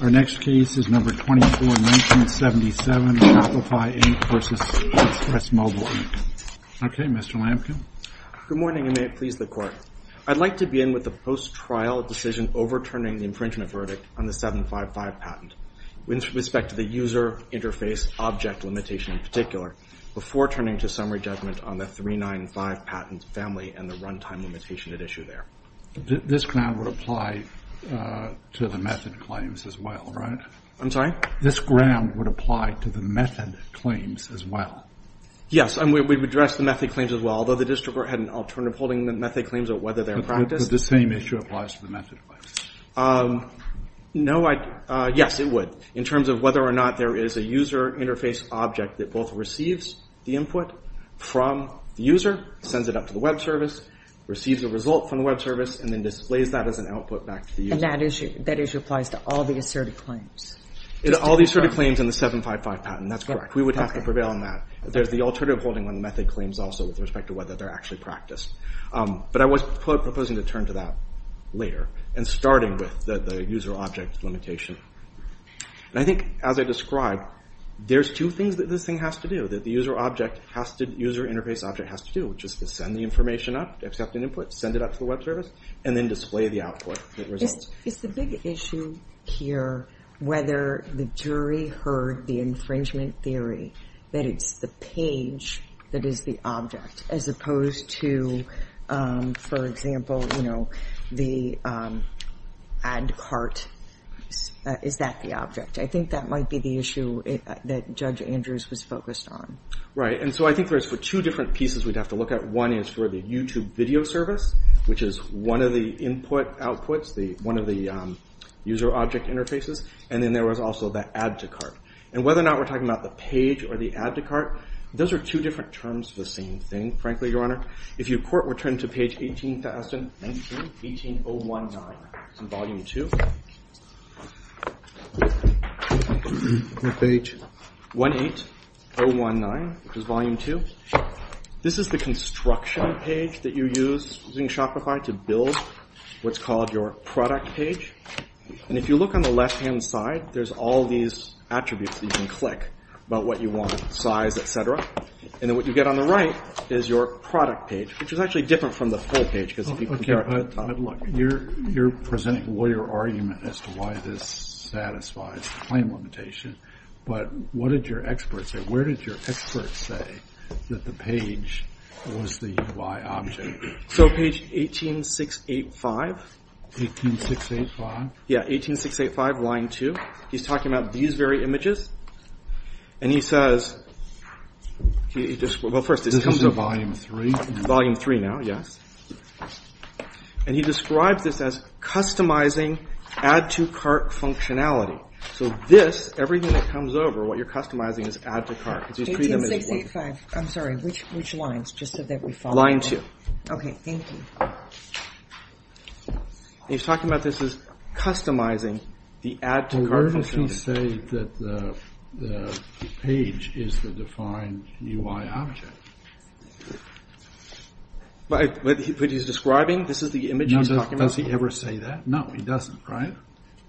Our next case is No. 24, 1977, Shopify, Inc. v. Express Mobile, Inc. Okay, Mr. Lampkin. Good morning, and may it please the Court. I'd like to begin with the post-trial decision overturning the infringement verdict on the 755 patent, with respect to the user interface object limitation in particular, before turning to summary judgment on the 395 patent family and the runtime limitation at issue there. This ground would apply to the method claims as well, right? I'm sorry? This ground would apply to the method claims as well. Yes, and we would address the method claims as well, although the district court had an alternative holding that method claims are whether they're in practice. But the same issue applies to the method claims. No, I – yes, it would. In terms of whether or not there is a user interface object that both receives the input from the user, sends it up to the web service, receives the result from the web service, and then displays that as an output back to the user. And that issue applies to all the asserted claims? All the asserted claims in the 755 patent. That's correct. We would have to prevail on that. There's the alternative holding on the method claims also, with respect to whether they're actually practiced. But I was proposing to turn to that later, and starting with the user object limitation. And I think, as I described, there's two things that this thing has to do, that the user object has to – user interface object has to do, which is to send the information up, accept an input, send it up to the web service, and then display the output, the results. Is the big issue here whether the jury heard the infringement theory, that it's the page that is the object, as opposed to, for example, you know, the ad cart. Is that the object? I think that might be the issue that Judge Andrews was focused on. And so I think there's two different pieces we'd have to look at. One is for the YouTube video service, which is one of the input outputs, one of the user object interfaces. And then there was also the ad to cart. And whether or not we're talking about the page or the ad to cart, those are two different terms for the same thing, frankly, Your Honor. If you return to page 18019, which is volume 2, this is the construction page that you use in Shopify to build what's called your product page. And if you look on the left-hand side, there's all these attributes that you can click about what you want, size, et cetera. And then what you get on the right is your product page, which is actually different from the full page, because if you compare it to the top. But look, you're presenting a lawyer argument as to why this satisfies the claim limitation. But what did your expert say? Where did your expert say that the page was the UI object? So page 18685. 18685? Yeah, 18685, line 2. He's talking about these very images. And he says, well, first this comes up. This is volume 3? Volume 3 now, yes. And he describes this as customizing ad to cart functionality. So this, everything that comes over, what you're customizing is ad to cart. 18685. I'm sorry, which lines, just so that we follow? Line 2. Okay, thank you. And he's talking about this as customizing the ad to cart functionality. He didn't say that the page is the defined UI object. But he's describing, this is the image he's talking about? Does he ever say that? No, he doesn't, right?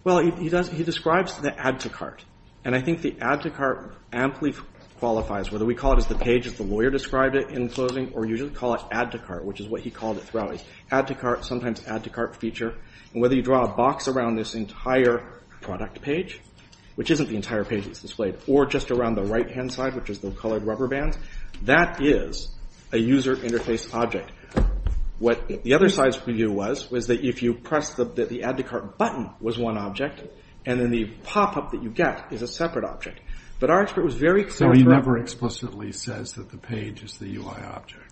Well, he describes the ad to cart. And I think the ad to cart amply qualifies, whether we call it as the page as the lawyer described it in closing, or you just call it ad to cart, which is what he called it throughout. Ad to cart, sometimes ad to cart feature. And whether you draw a box around this entire product page, which isn't the entire page that's displayed, or just around the right-hand side, which is the colored rubber bands, that is a user interface object. What the other side's view was, was that if you press the ad to cart button was one object, and then the pop-up that you get is a separate object. But our expert was very clear. So he never explicitly says that the page is the UI object?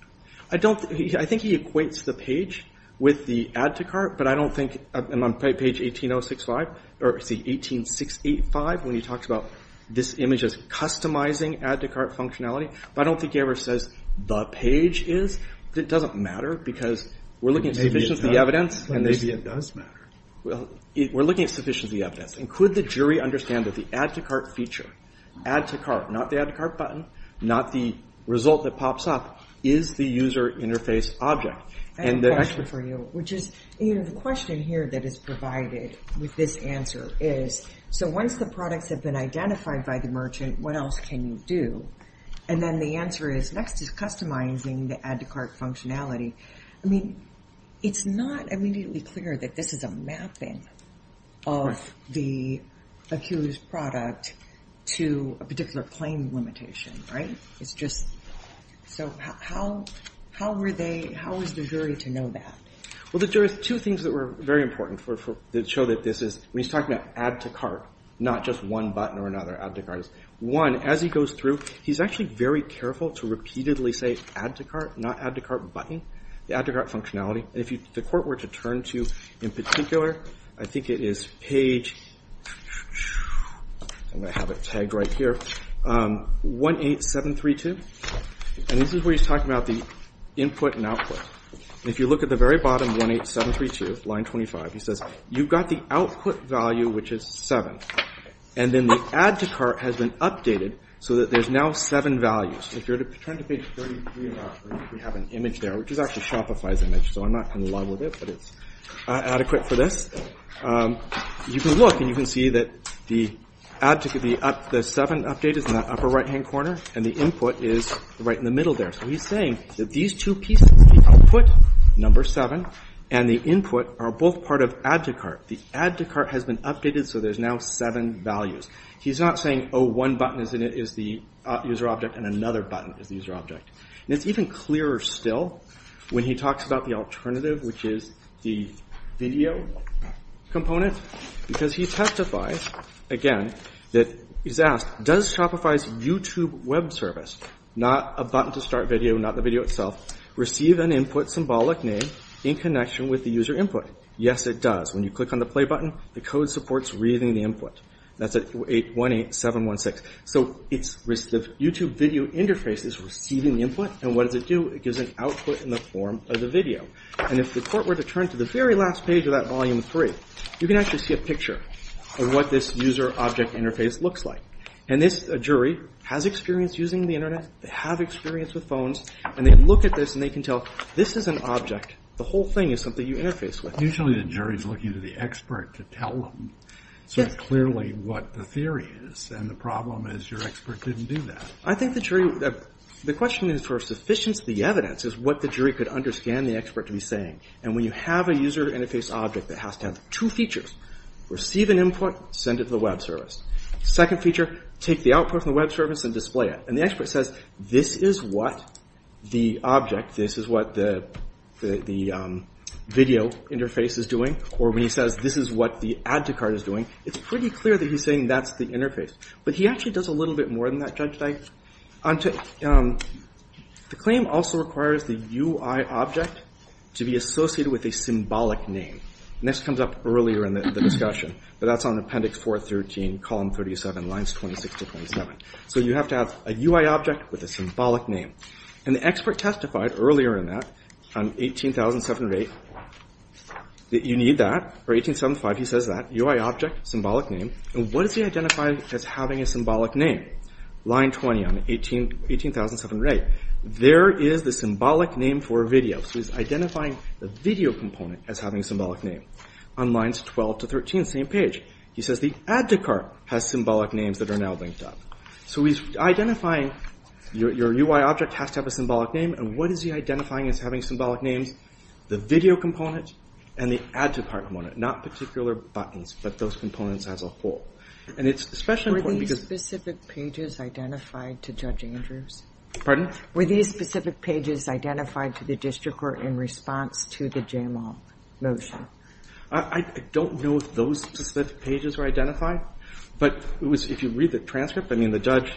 I don't, I think he equates the page with the ad to cart, but I don't think, and on page 18.065, or 18.685, when he talks about this image as customizing ad to cart functionality, but I don't think he ever says the page is. It doesn't matter, because we're looking at sufficient evidence. Maybe it does matter. We're looking at sufficient evidence. And could the jury understand that the ad to cart feature, ad to cart, not the ad to cart button, not the result that pops up, is the user interface object? I have a question for you, which is, you know, the question here that is provided with this answer is, so once the products have been identified by the merchant, what else can you do? And then the answer is, next is customizing the ad to cart functionality. I mean, it's not immediately clear that this is a mapping of the accused product to a particular claim limitation, right? It's just, so how were they, how is the jury to know that? Well, there are two things that were very important that show that this is, when he's talking about ad to cart, not just one button or another ad to cart. One, as he goes through, he's actually very careful to repeatedly say ad to cart, not ad to cart button, the ad to cart functionality. And if the court were to turn to, in particular, I think it is page, I'm going to have it tagged right here, 18732. And this is where he's talking about the input and output. And if you look at the very bottom, 18732, line 25, he says, you've got the output value, which is seven. And then the ad to cart has been updated so that there's now seven values. If you're to turn to page 33, we have an image there, which is actually Shopify's image, so I'm not in love with it, but it's adequate for this. You can look and you can see that the ad to, the seven update is in the upper right-hand corner, and the input is right in the middle there. So he's saying that these two pieces, the output, number seven, and the input are both part of ad to cart. The ad to cart has been updated, so there's now seven values. He's not saying, oh, one button is the user object and another button is the user object. And it's even clearer still when he talks about the alternative, which is the video component, because he testifies, again, that he's asked, does Shopify's YouTube web service, not a button to start video, not the video itself, receive an input symbolic name in connection with the user input? Yes, it does. When you click on the play button, the code supports reading the input. That's at 818716. So the YouTube video interface is receiving the input, and what does it do? It gives an output in the form of the video. And if the court were to turn to the very last page of that volume three, you can actually see a picture of what this user object interface looks like. And this jury has experience using the internet, they have experience with phones, and they look at this and they can tell, this is an object. The whole thing is something you interface with. Usually the jury's looking to the expert to tell them sort of clearly what the theory is. And the problem is your expert didn't do that. I think the jury, the question is for sufficiency of the evidence is what the jury could understand the expert to be saying. And when you have a user interface object that has to have two features, receive an input, send it to the web service. Second feature, take the output from the web service and display it. And the expert says, this is what the object, this is what the video interface is doing. Or when he says, this is what the add to cart is doing, it's pretty clear that he's saying that's the interface. But he actually does a little bit more than that, Judge Dyke. The claim also requires the UI object to be associated with a symbolic name. And this comes up earlier in the discussion, but that's on appendix 413, column 37, lines 26 to 27. So you have to have a UI object with a symbolic name. And the expert testified earlier in that on 18708 that you need that, or 1875 he says that, UI object, symbolic name. And what does he identify as having a symbolic name? Line 20 on 18708, there is the symbolic name for video. So he's identifying the video component as having a symbolic name. On lines 12 to 13, same page, he says the add to cart has symbolic names that are now linked up. So he's identifying your UI object has to have a symbolic name. And what is he identifying as having symbolic names? The video component and the add to cart component. Not particular buttons, but those components as a whole. And it's especially important because... Were these specific pages identified to Judge Andrews? I don't know if those specific pages were identified. But if you read the transcript, I mean, the judge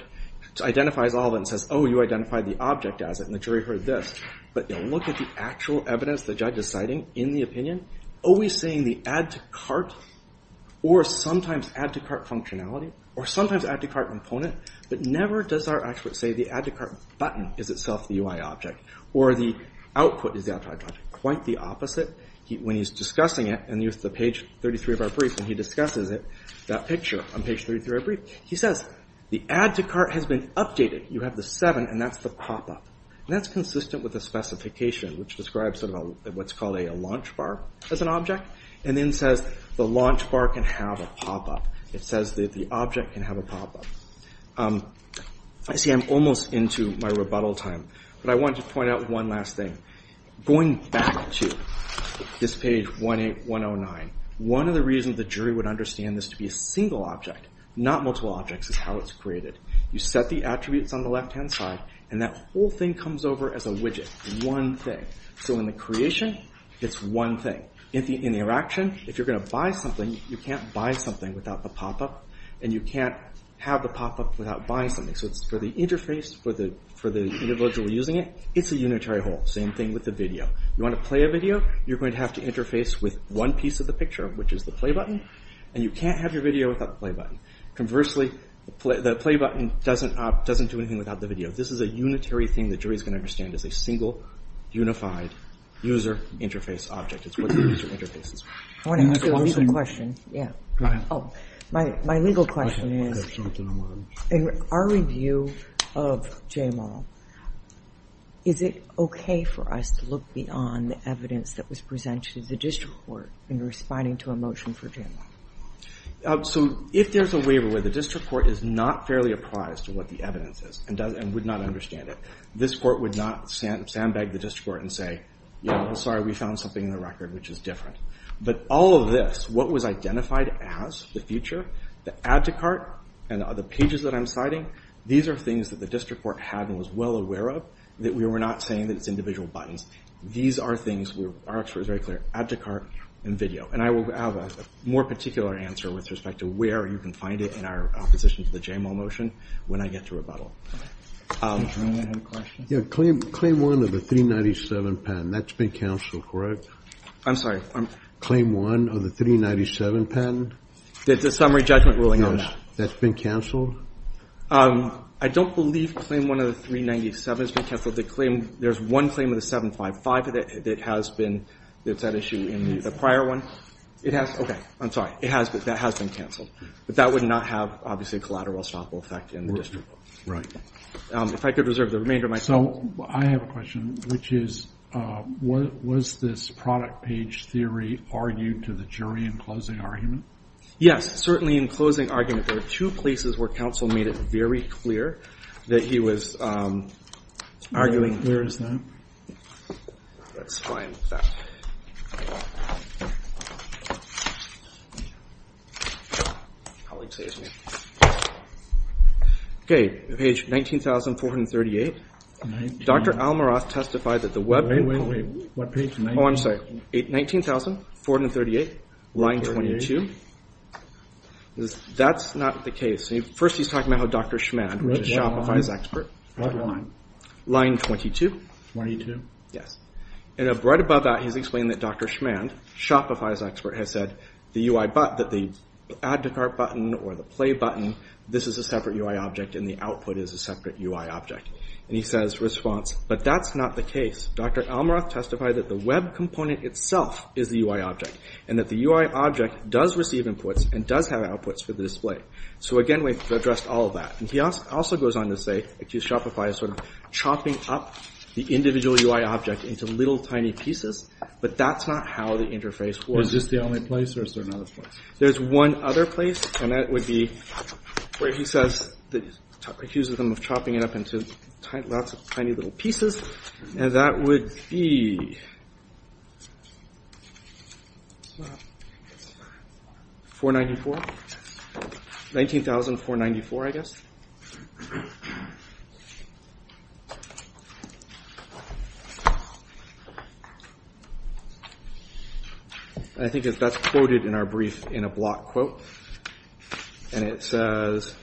identifies all of it and says, oh, you identified the object as it, and the jury heard this. But look at the actual evidence the judge is citing in the opinion, always saying the add to cart or sometimes add to cart functionality, or sometimes add to cart component, but never does our expert say the add to cart button is itself the UI object, or the output is the add to cart object. Quite the opposite. When he's discussing it, and here's the page 33 of our brief, and he discusses it, that picture on page 33 of our brief, he says the add to cart has been updated. You have the seven, and that's the pop-up. And that's consistent with the specification, which describes sort of what's called a launch bar as an object, and then says the launch bar can have a pop-up. It says that the object can have a pop-up. I see I'm almost into my rebuttal time, but I wanted to point out one last thing. Going back to this page 18109, one of the reasons the jury would understand this to be a single object, not multiple objects, is how it's created. You set the attributes on the left-hand side, and that whole thing comes over as a widget, one thing. So in the creation, it's one thing. In the interaction, if you're going to buy something, you can't buy something without the pop-up, and you can't have the pop-up without buying something. So for the interface, for the individual using it, it's a unitary whole. Same thing with the video. You want to play a video? You're going to have to interface with one piece of the picture, which is the play button, and you can't have your video without the play button. Conversely, the play button doesn't do anything without the video. This is a unitary thing the jury is going to understand as a single, unified user interface object. It's what the user interface is. I want to ask you a legal question. Go ahead. My legal question is, in our review of JMOL, is it okay for us to look beyond the evidence that was presented to the district court in responding to a motion for JMOL? So if there's a waiver where the district court is not fairly apprised of what the evidence is and would not understand it, this court would not sandbag the district court and say, you know, sorry, we found something in the record which is different. But all of this, what was identified as the feature, the add to cart, and the pages that I'm citing, these are things that the district court had and was well aware of that we were not saying that it's individual buttons. These are things where our expert is very clear. Add to cart and video. And I will have a more particular answer with respect to where you can find it in our opposition to the JMOL motion when I get to rebuttal. Claim one of the 397 patent. That's been canceled, correct? I'm sorry. Claim one of the 397 patent? The summary judgment ruling on that. That's been canceled? I don't believe claim one of the 397 has been canceled. The claim, there's one claim of the 755 that has been, it's that issue in the prior one. It has, okay, I'm sorry. It has been, that has been canceled. But that would not have, obviously, a collateral or estoppel effect in the district court. Right. If I could reserve the remainder of my time. So I have a question, which is, was this product page theory argued to the jury in closing argument? Yes, certainly in closing argument. There are two places where counsel made it very clear that he was arguing. Where is that? Let's find that. Okay. Page 19,438. Dr. Almaroth testified that the web. Wait, wait. What page? Oh, I'm sorry. 19,438, line 22. That's not the case. First, he's talking about how Dr. Schmand, which is Shopify's expert. What line? Line 22. 22? Yes. And right above that, he's explained that Dr. Schmand, Shopify's expert, has said that the add to cart button or the play button, this is a separate UI object and the output is a separate UI object. And he says, response, but that's not the case. Dr. Almaroth testified that the web component itself is the UI object and that the UI object does receive inputs and does have outputs for the display. So, again, we've addressed all of that. And he also goes on to say that Shopify is sort of chopping up the individual UI object into little tiny pieces, but that's not how the interface works. Is this the only place or is there another place? There's one other place, and that would be where he says, accuses them of chopping it up into lots of tiny little pieces, and that would be 494. 19,494, I guess. I think that's quoted in our brief in a block quote, and it says,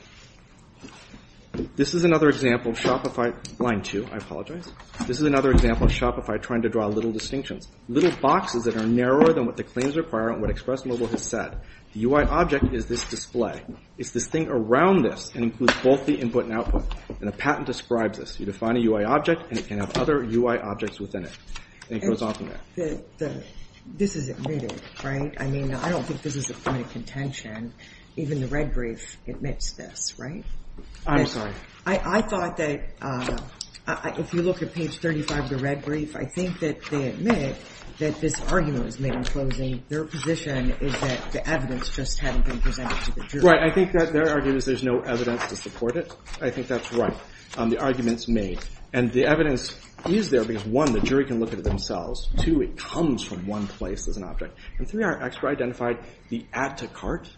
this is another example of Shopify, line two, I apologize. This is another example of Shopify trying to draw little distinctions, little boxes that are narrower than what the claims require and what Express Mobile has said. The UI object is this display. It's this thing around this and includes both the input and output. And the patent describes this. You define a UI object and it can have other UI objects within it. And he goes on from there. This is admitted, right? I mean, I don't think this is a point of contention. Even the red brief admits this, right? I'm sorry. I thought that if you look at page 35 of the red brief, I think that they admit that this argument was made in closing. Their position is that the evidence just hadn't been presented to the jury. Right. I think that their argument is there's no evidence to support it. I think that's right. The argument's made. And the evidence is there because, one, the jury can look at it themselves. Two, it comes from one place as an object. And three, our expert identified the add-to-cart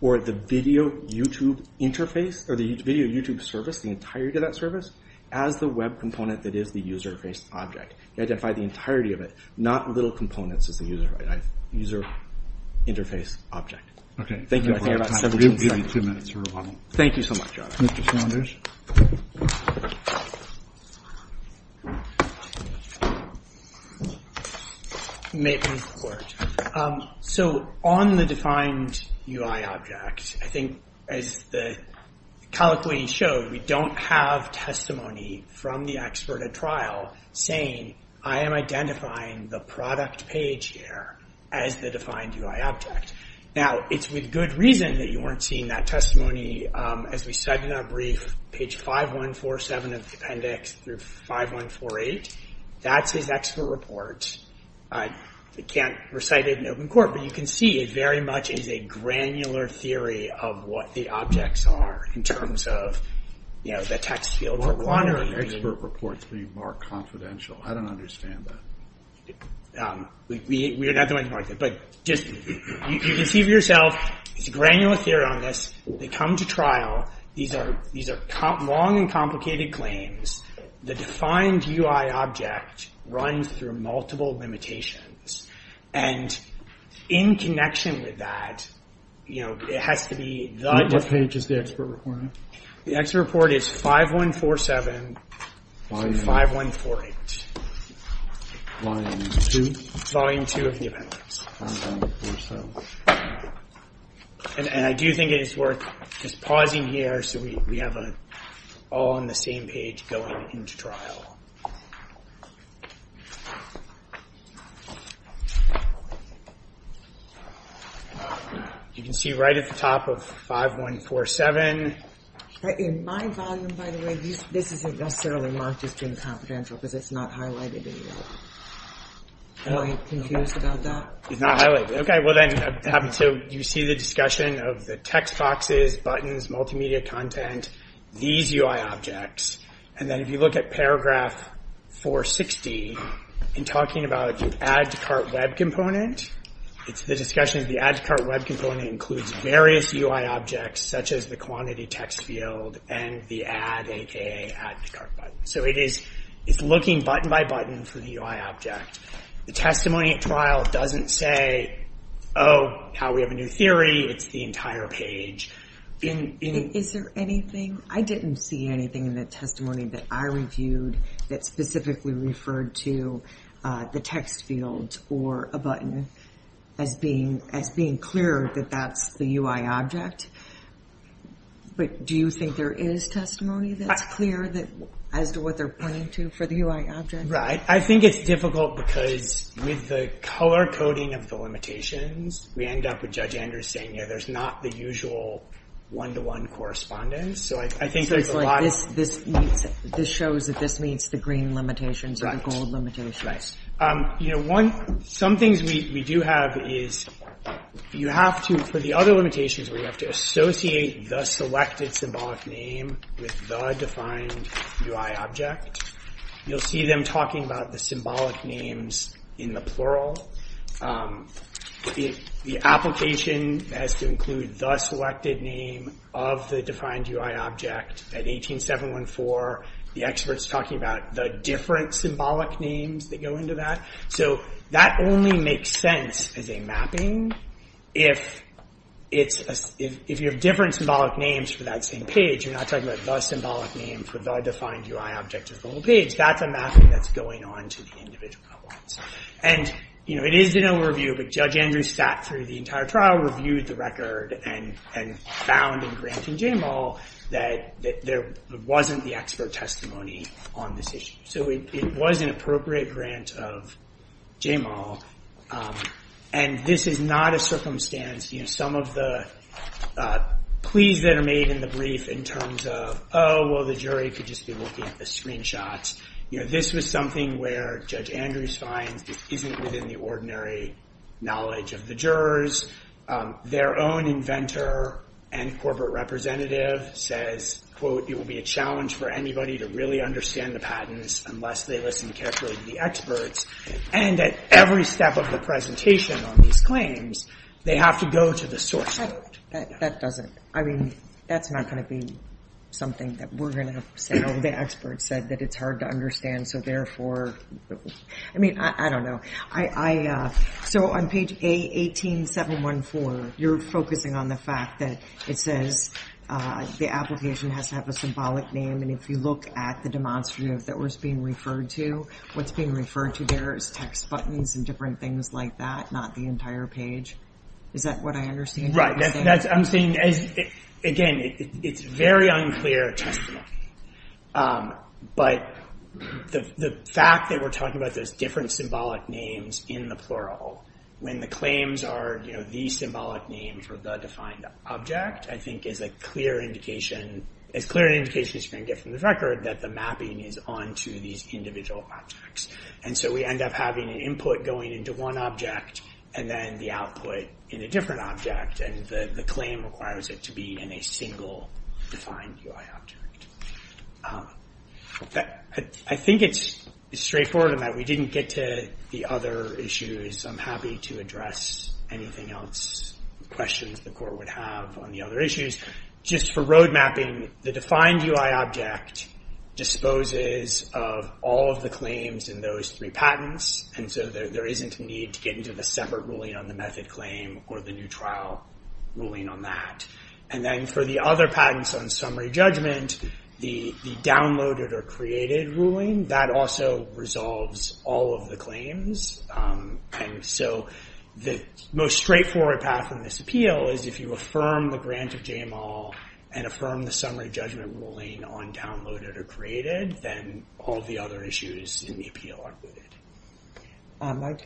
or the video YouTube interface or the video YouTube service, the entirety of that service, as the web component that is the user interface object. He identified the entirety of it, not little components as the user interface object. Okay. Thank you. I think I have about 17 seconds. We'll give you two minutes for rebuttal. Thank you so much. Mr. Saunders. So on the defined UI object, I think as the colloquy showed, we don't have testimony from the expert at trial saying, I am identifying the product page here as the defined UI object. Now, it's with good reason that you weren't seeing that testimony, as we said in our brief, page 5147 of the appendix through 5148. That's his expert report. I can't recite it in open court, but you can see it very much is a granular theory of what the objects are in terms of, you know, the text field for quantity. What part of expert reports do you mark confidential? I don't understand that. We're not the ones who mark that. But just you can see for yourself, it's a granular theory on this. They come to trial. These are long and complicated claims. The defined UI object runs through multiple limitations. And in connection with that, you know, it has to be the. What page is the expert report on? The expert report is 5147, 5148. Volume 2? Volume 2 of the appendix. 5147. And I do think it is worth just pausing here so we have all on the same page going into trial. You can see right at the top of 5147. In my volume, by the way, this isn't necessarily marked as being confidential because it's not highlighted in here. Am I confused about that? It's not highlighted. Okay, well then, you see the discussion of the text boxes, buttons, multimedia content, these UI objects. And then if you look at paragraph 460, in talking about the Add to Cart Web Component, it's the discussion of the Add to Cart Web Component includes various UI objects, such as the quantity text field and the Add, a.k.a. Add to Cart button. So it's looking button by button for the UI object. The testimony at trial doesn't say, oh, now we have a new theory. It's the entire page. Is there anything? I didn't see anything in the testimony that I reviewed that specifically referred to the text field or a button as being clear that that's the UI object. But do you think there is testimony that's clear as to what they're pointing to for the UI object? Right. I think it's difficult because with the color coding of the limitations, we end up with Judge Andrews saying, yeah, there's not the usual one-to-one correspondence. So I think there's a lot of— So it's like this shows that this meets the green limitations or the gold limitations. Right. You know, some things we do have is you have to, for the other limitations, we have to associate the selected symbolic name with the defined UI object. You'll see them talking about the symbolic names in the plural. The application has to include the selected name of the defined UI object. At 18714, the experts are talking about the different symbolic names that go into that. So that only makes sense as a mapping. If you have different symbolic names for that same page, but you're not talking about the symbolic name for the defined UI object of the whole page, that's a mapping that's going on to the individual outlines. And, you know, it is in a review, but Judge Andrews sat through the entire trial, reviewed the record, and found in granting JMAL that there wasn't the expert testimony on this issue. So it was an appropriate grant of JMAL. And this is not a circumstance, you know, some of the pleas that are made in the brief in terms of, oh, well, the jury could just be looking at the screenshots. You know, this was something where Judge Andrews finds this isn't within the ordinary knowledge of the jurors. Their own inventor and corporate representative says, quote, it will be a challenge for anybody to really understand the patents unless they listen carefully to the experts. And at every step of the presentation on these claims, they have to go to the source note. That doesn't, I mean, that's not going to be something that we're going to say, oh, the expert said that it's hard to understand, so therefore, I mean, I don't know. So on page A18714, you're focusing on the fact that it says the application has to have a symbolic name. And if you look at the demonstrative that was being referred to, what's being referred to there is text buttons and different things like that, not the entire page. Is that what I understand? I'm saying, again, it's very unclear testimony. But the fact that we're talking about those different symbolic names in the plural, when the claims are, you know, the symbolic name for the defined object, I think is a clear indication, as clear an indication as you can get from the record, that the mapping is onto these individual objects. And so we end up having an input going into one object and then the output in a different object. And the claim requires it to be in a single defined UI object. I think it's straightforward in that we didn't get to the other issues. I'm happy to address anything else, questions the court would have on the other issues. Just for road mapping, the defined UI object disposes of all of the claims in those three patents. And so there isn't a need to get into the separate ruling on the method claim or the new trial ruling on that. And then for the other patents on summary judgment, the downloaded or created ruling, that also resolves all of the claims. And so the most straightforward path in this appeal is if you affirm the grant of JML and affirm the summary judgment ruling on downloaded or created, then all the other issues in the appeal are rooted.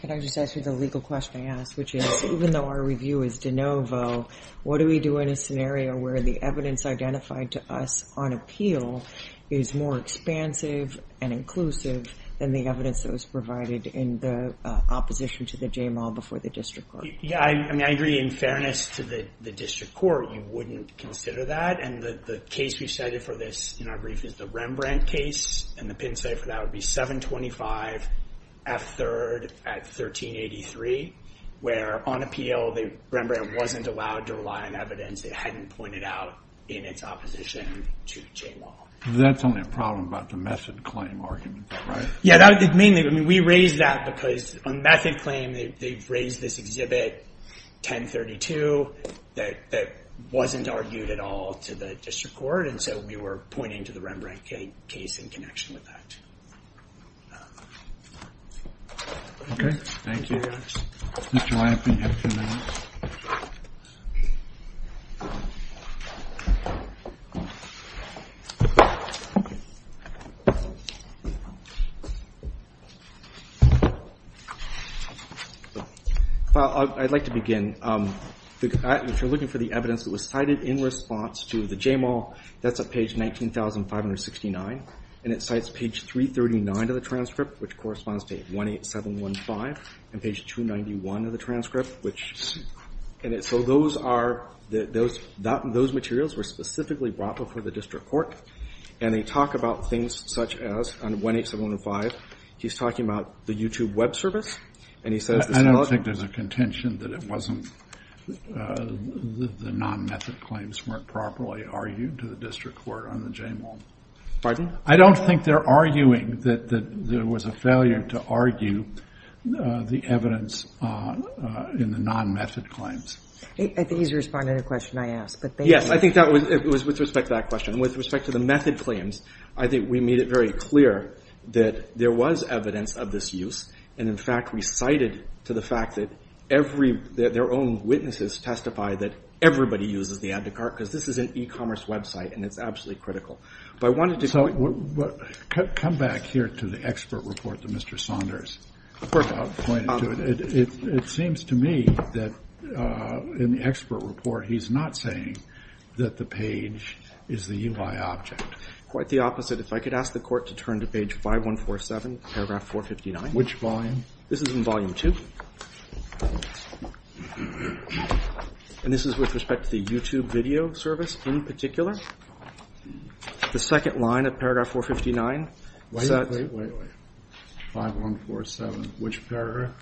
Can I just ask you the legal question I asked, which is, even though our review is de novo, what do we do in a scenario where the evidence identified to us on appeal is more expansive and inclusive than the evidence that was provided in the opposition to the JML before the district court? Yeah, I mean, I agree. In fairness to the district court, you wouldn't consider that. And the case we cited for this in our brief is the Rembrandt case. And the pin cipher, that would be 725 F3rd at 1383, where on appeal the Rembrandt wasn't allowed to rely on evidence that hadn't pointed out in its opposition to JML. That's only a problem about the method claim argument, is that right? Yeah, we raised that because on method claim they've raised this exhibit 1032 that wasn't argued at all to the district court. And so we were pointing to the Rembrandt case in connection with that. Okay, thank you. Mr. Lampley, you have two minutes. I'd like to begin. If you're looking for the evidence that was cited in response to the JML, that's at page 19,569, and it cites page 339 of the transcript, which corresponds to 18715, and page 291 of the transcript. So those materials were specifically brought before the district court, and they talk about things such as, on 18715, he's talking about the YouTube web service. I don't think there's a contention that the non-method claims weren't properly argued to the district court on the JML. Pardon? I don't think they're arguing that there was a failure to argue the evidence in the non-method claims. I think he's responding to a question I asked, but thank you. Yes, I think that was with respect to that question. With respect to the method claims, I think we made it very clear that there was evidence of this use, and, in fact, we cited to the fact that their own witnesses testify that everybody uses the Add to Cart because this is an e-commerce website and it's absolutely critical. So come back here to the expert report that Mr. Saunders pointed to. It seems to me that in the expert report he's not saying that the page is the UI object. Quite the opposite. If I could ask the court to turn to page 5147, paragraph 459. Which volume? This is in volume 2. And this is with respect to the YouTube video service in particular. The second line of paragraph 459. Wait, wait, wait. 5147, which paragraph?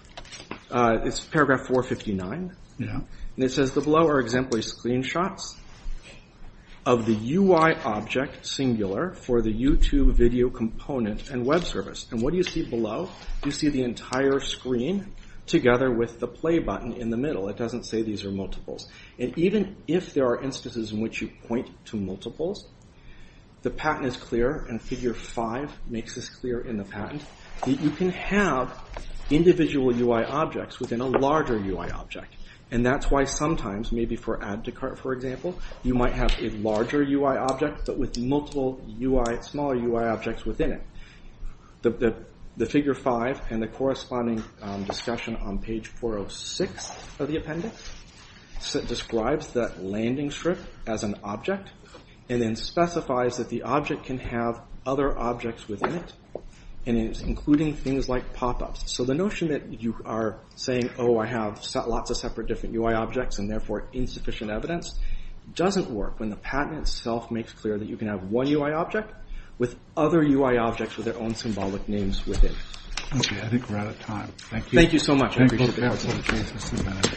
It's paragraph 459. Yeah. And it says, The below are exemplary screenshots of the UI object singular for the YouTube video component and web service. And what do you see below? You see the entire screen together with the play button in the middle. It doesn't say these are multiples. And even if there are instances in which you point to multiples, the patent is clear, and figure 5 makes this clear in the patent, that you can have individual UI objects within a larger UI object. And that's why sometimes, maybe for Add to Cart, for example, you might have a larger UI object but with multiple smaller UI objects within it. The figure 5 and the corresponding discussion on page 406 of the appendix describes that landing strip as an object and then specifies that the object can have other objects within it, and it's including things like pop-ups. So the notion that you are saying, Oh, I have lots of separate different UI objects and therefore insufficient evidence, doesn't work when the patent itself makes clear that you can have one UI object with other UI objects with their own symbolic names within it. Okay, I think we're out of time. Thank you. Thank you so much. I appreciate it. Thank you.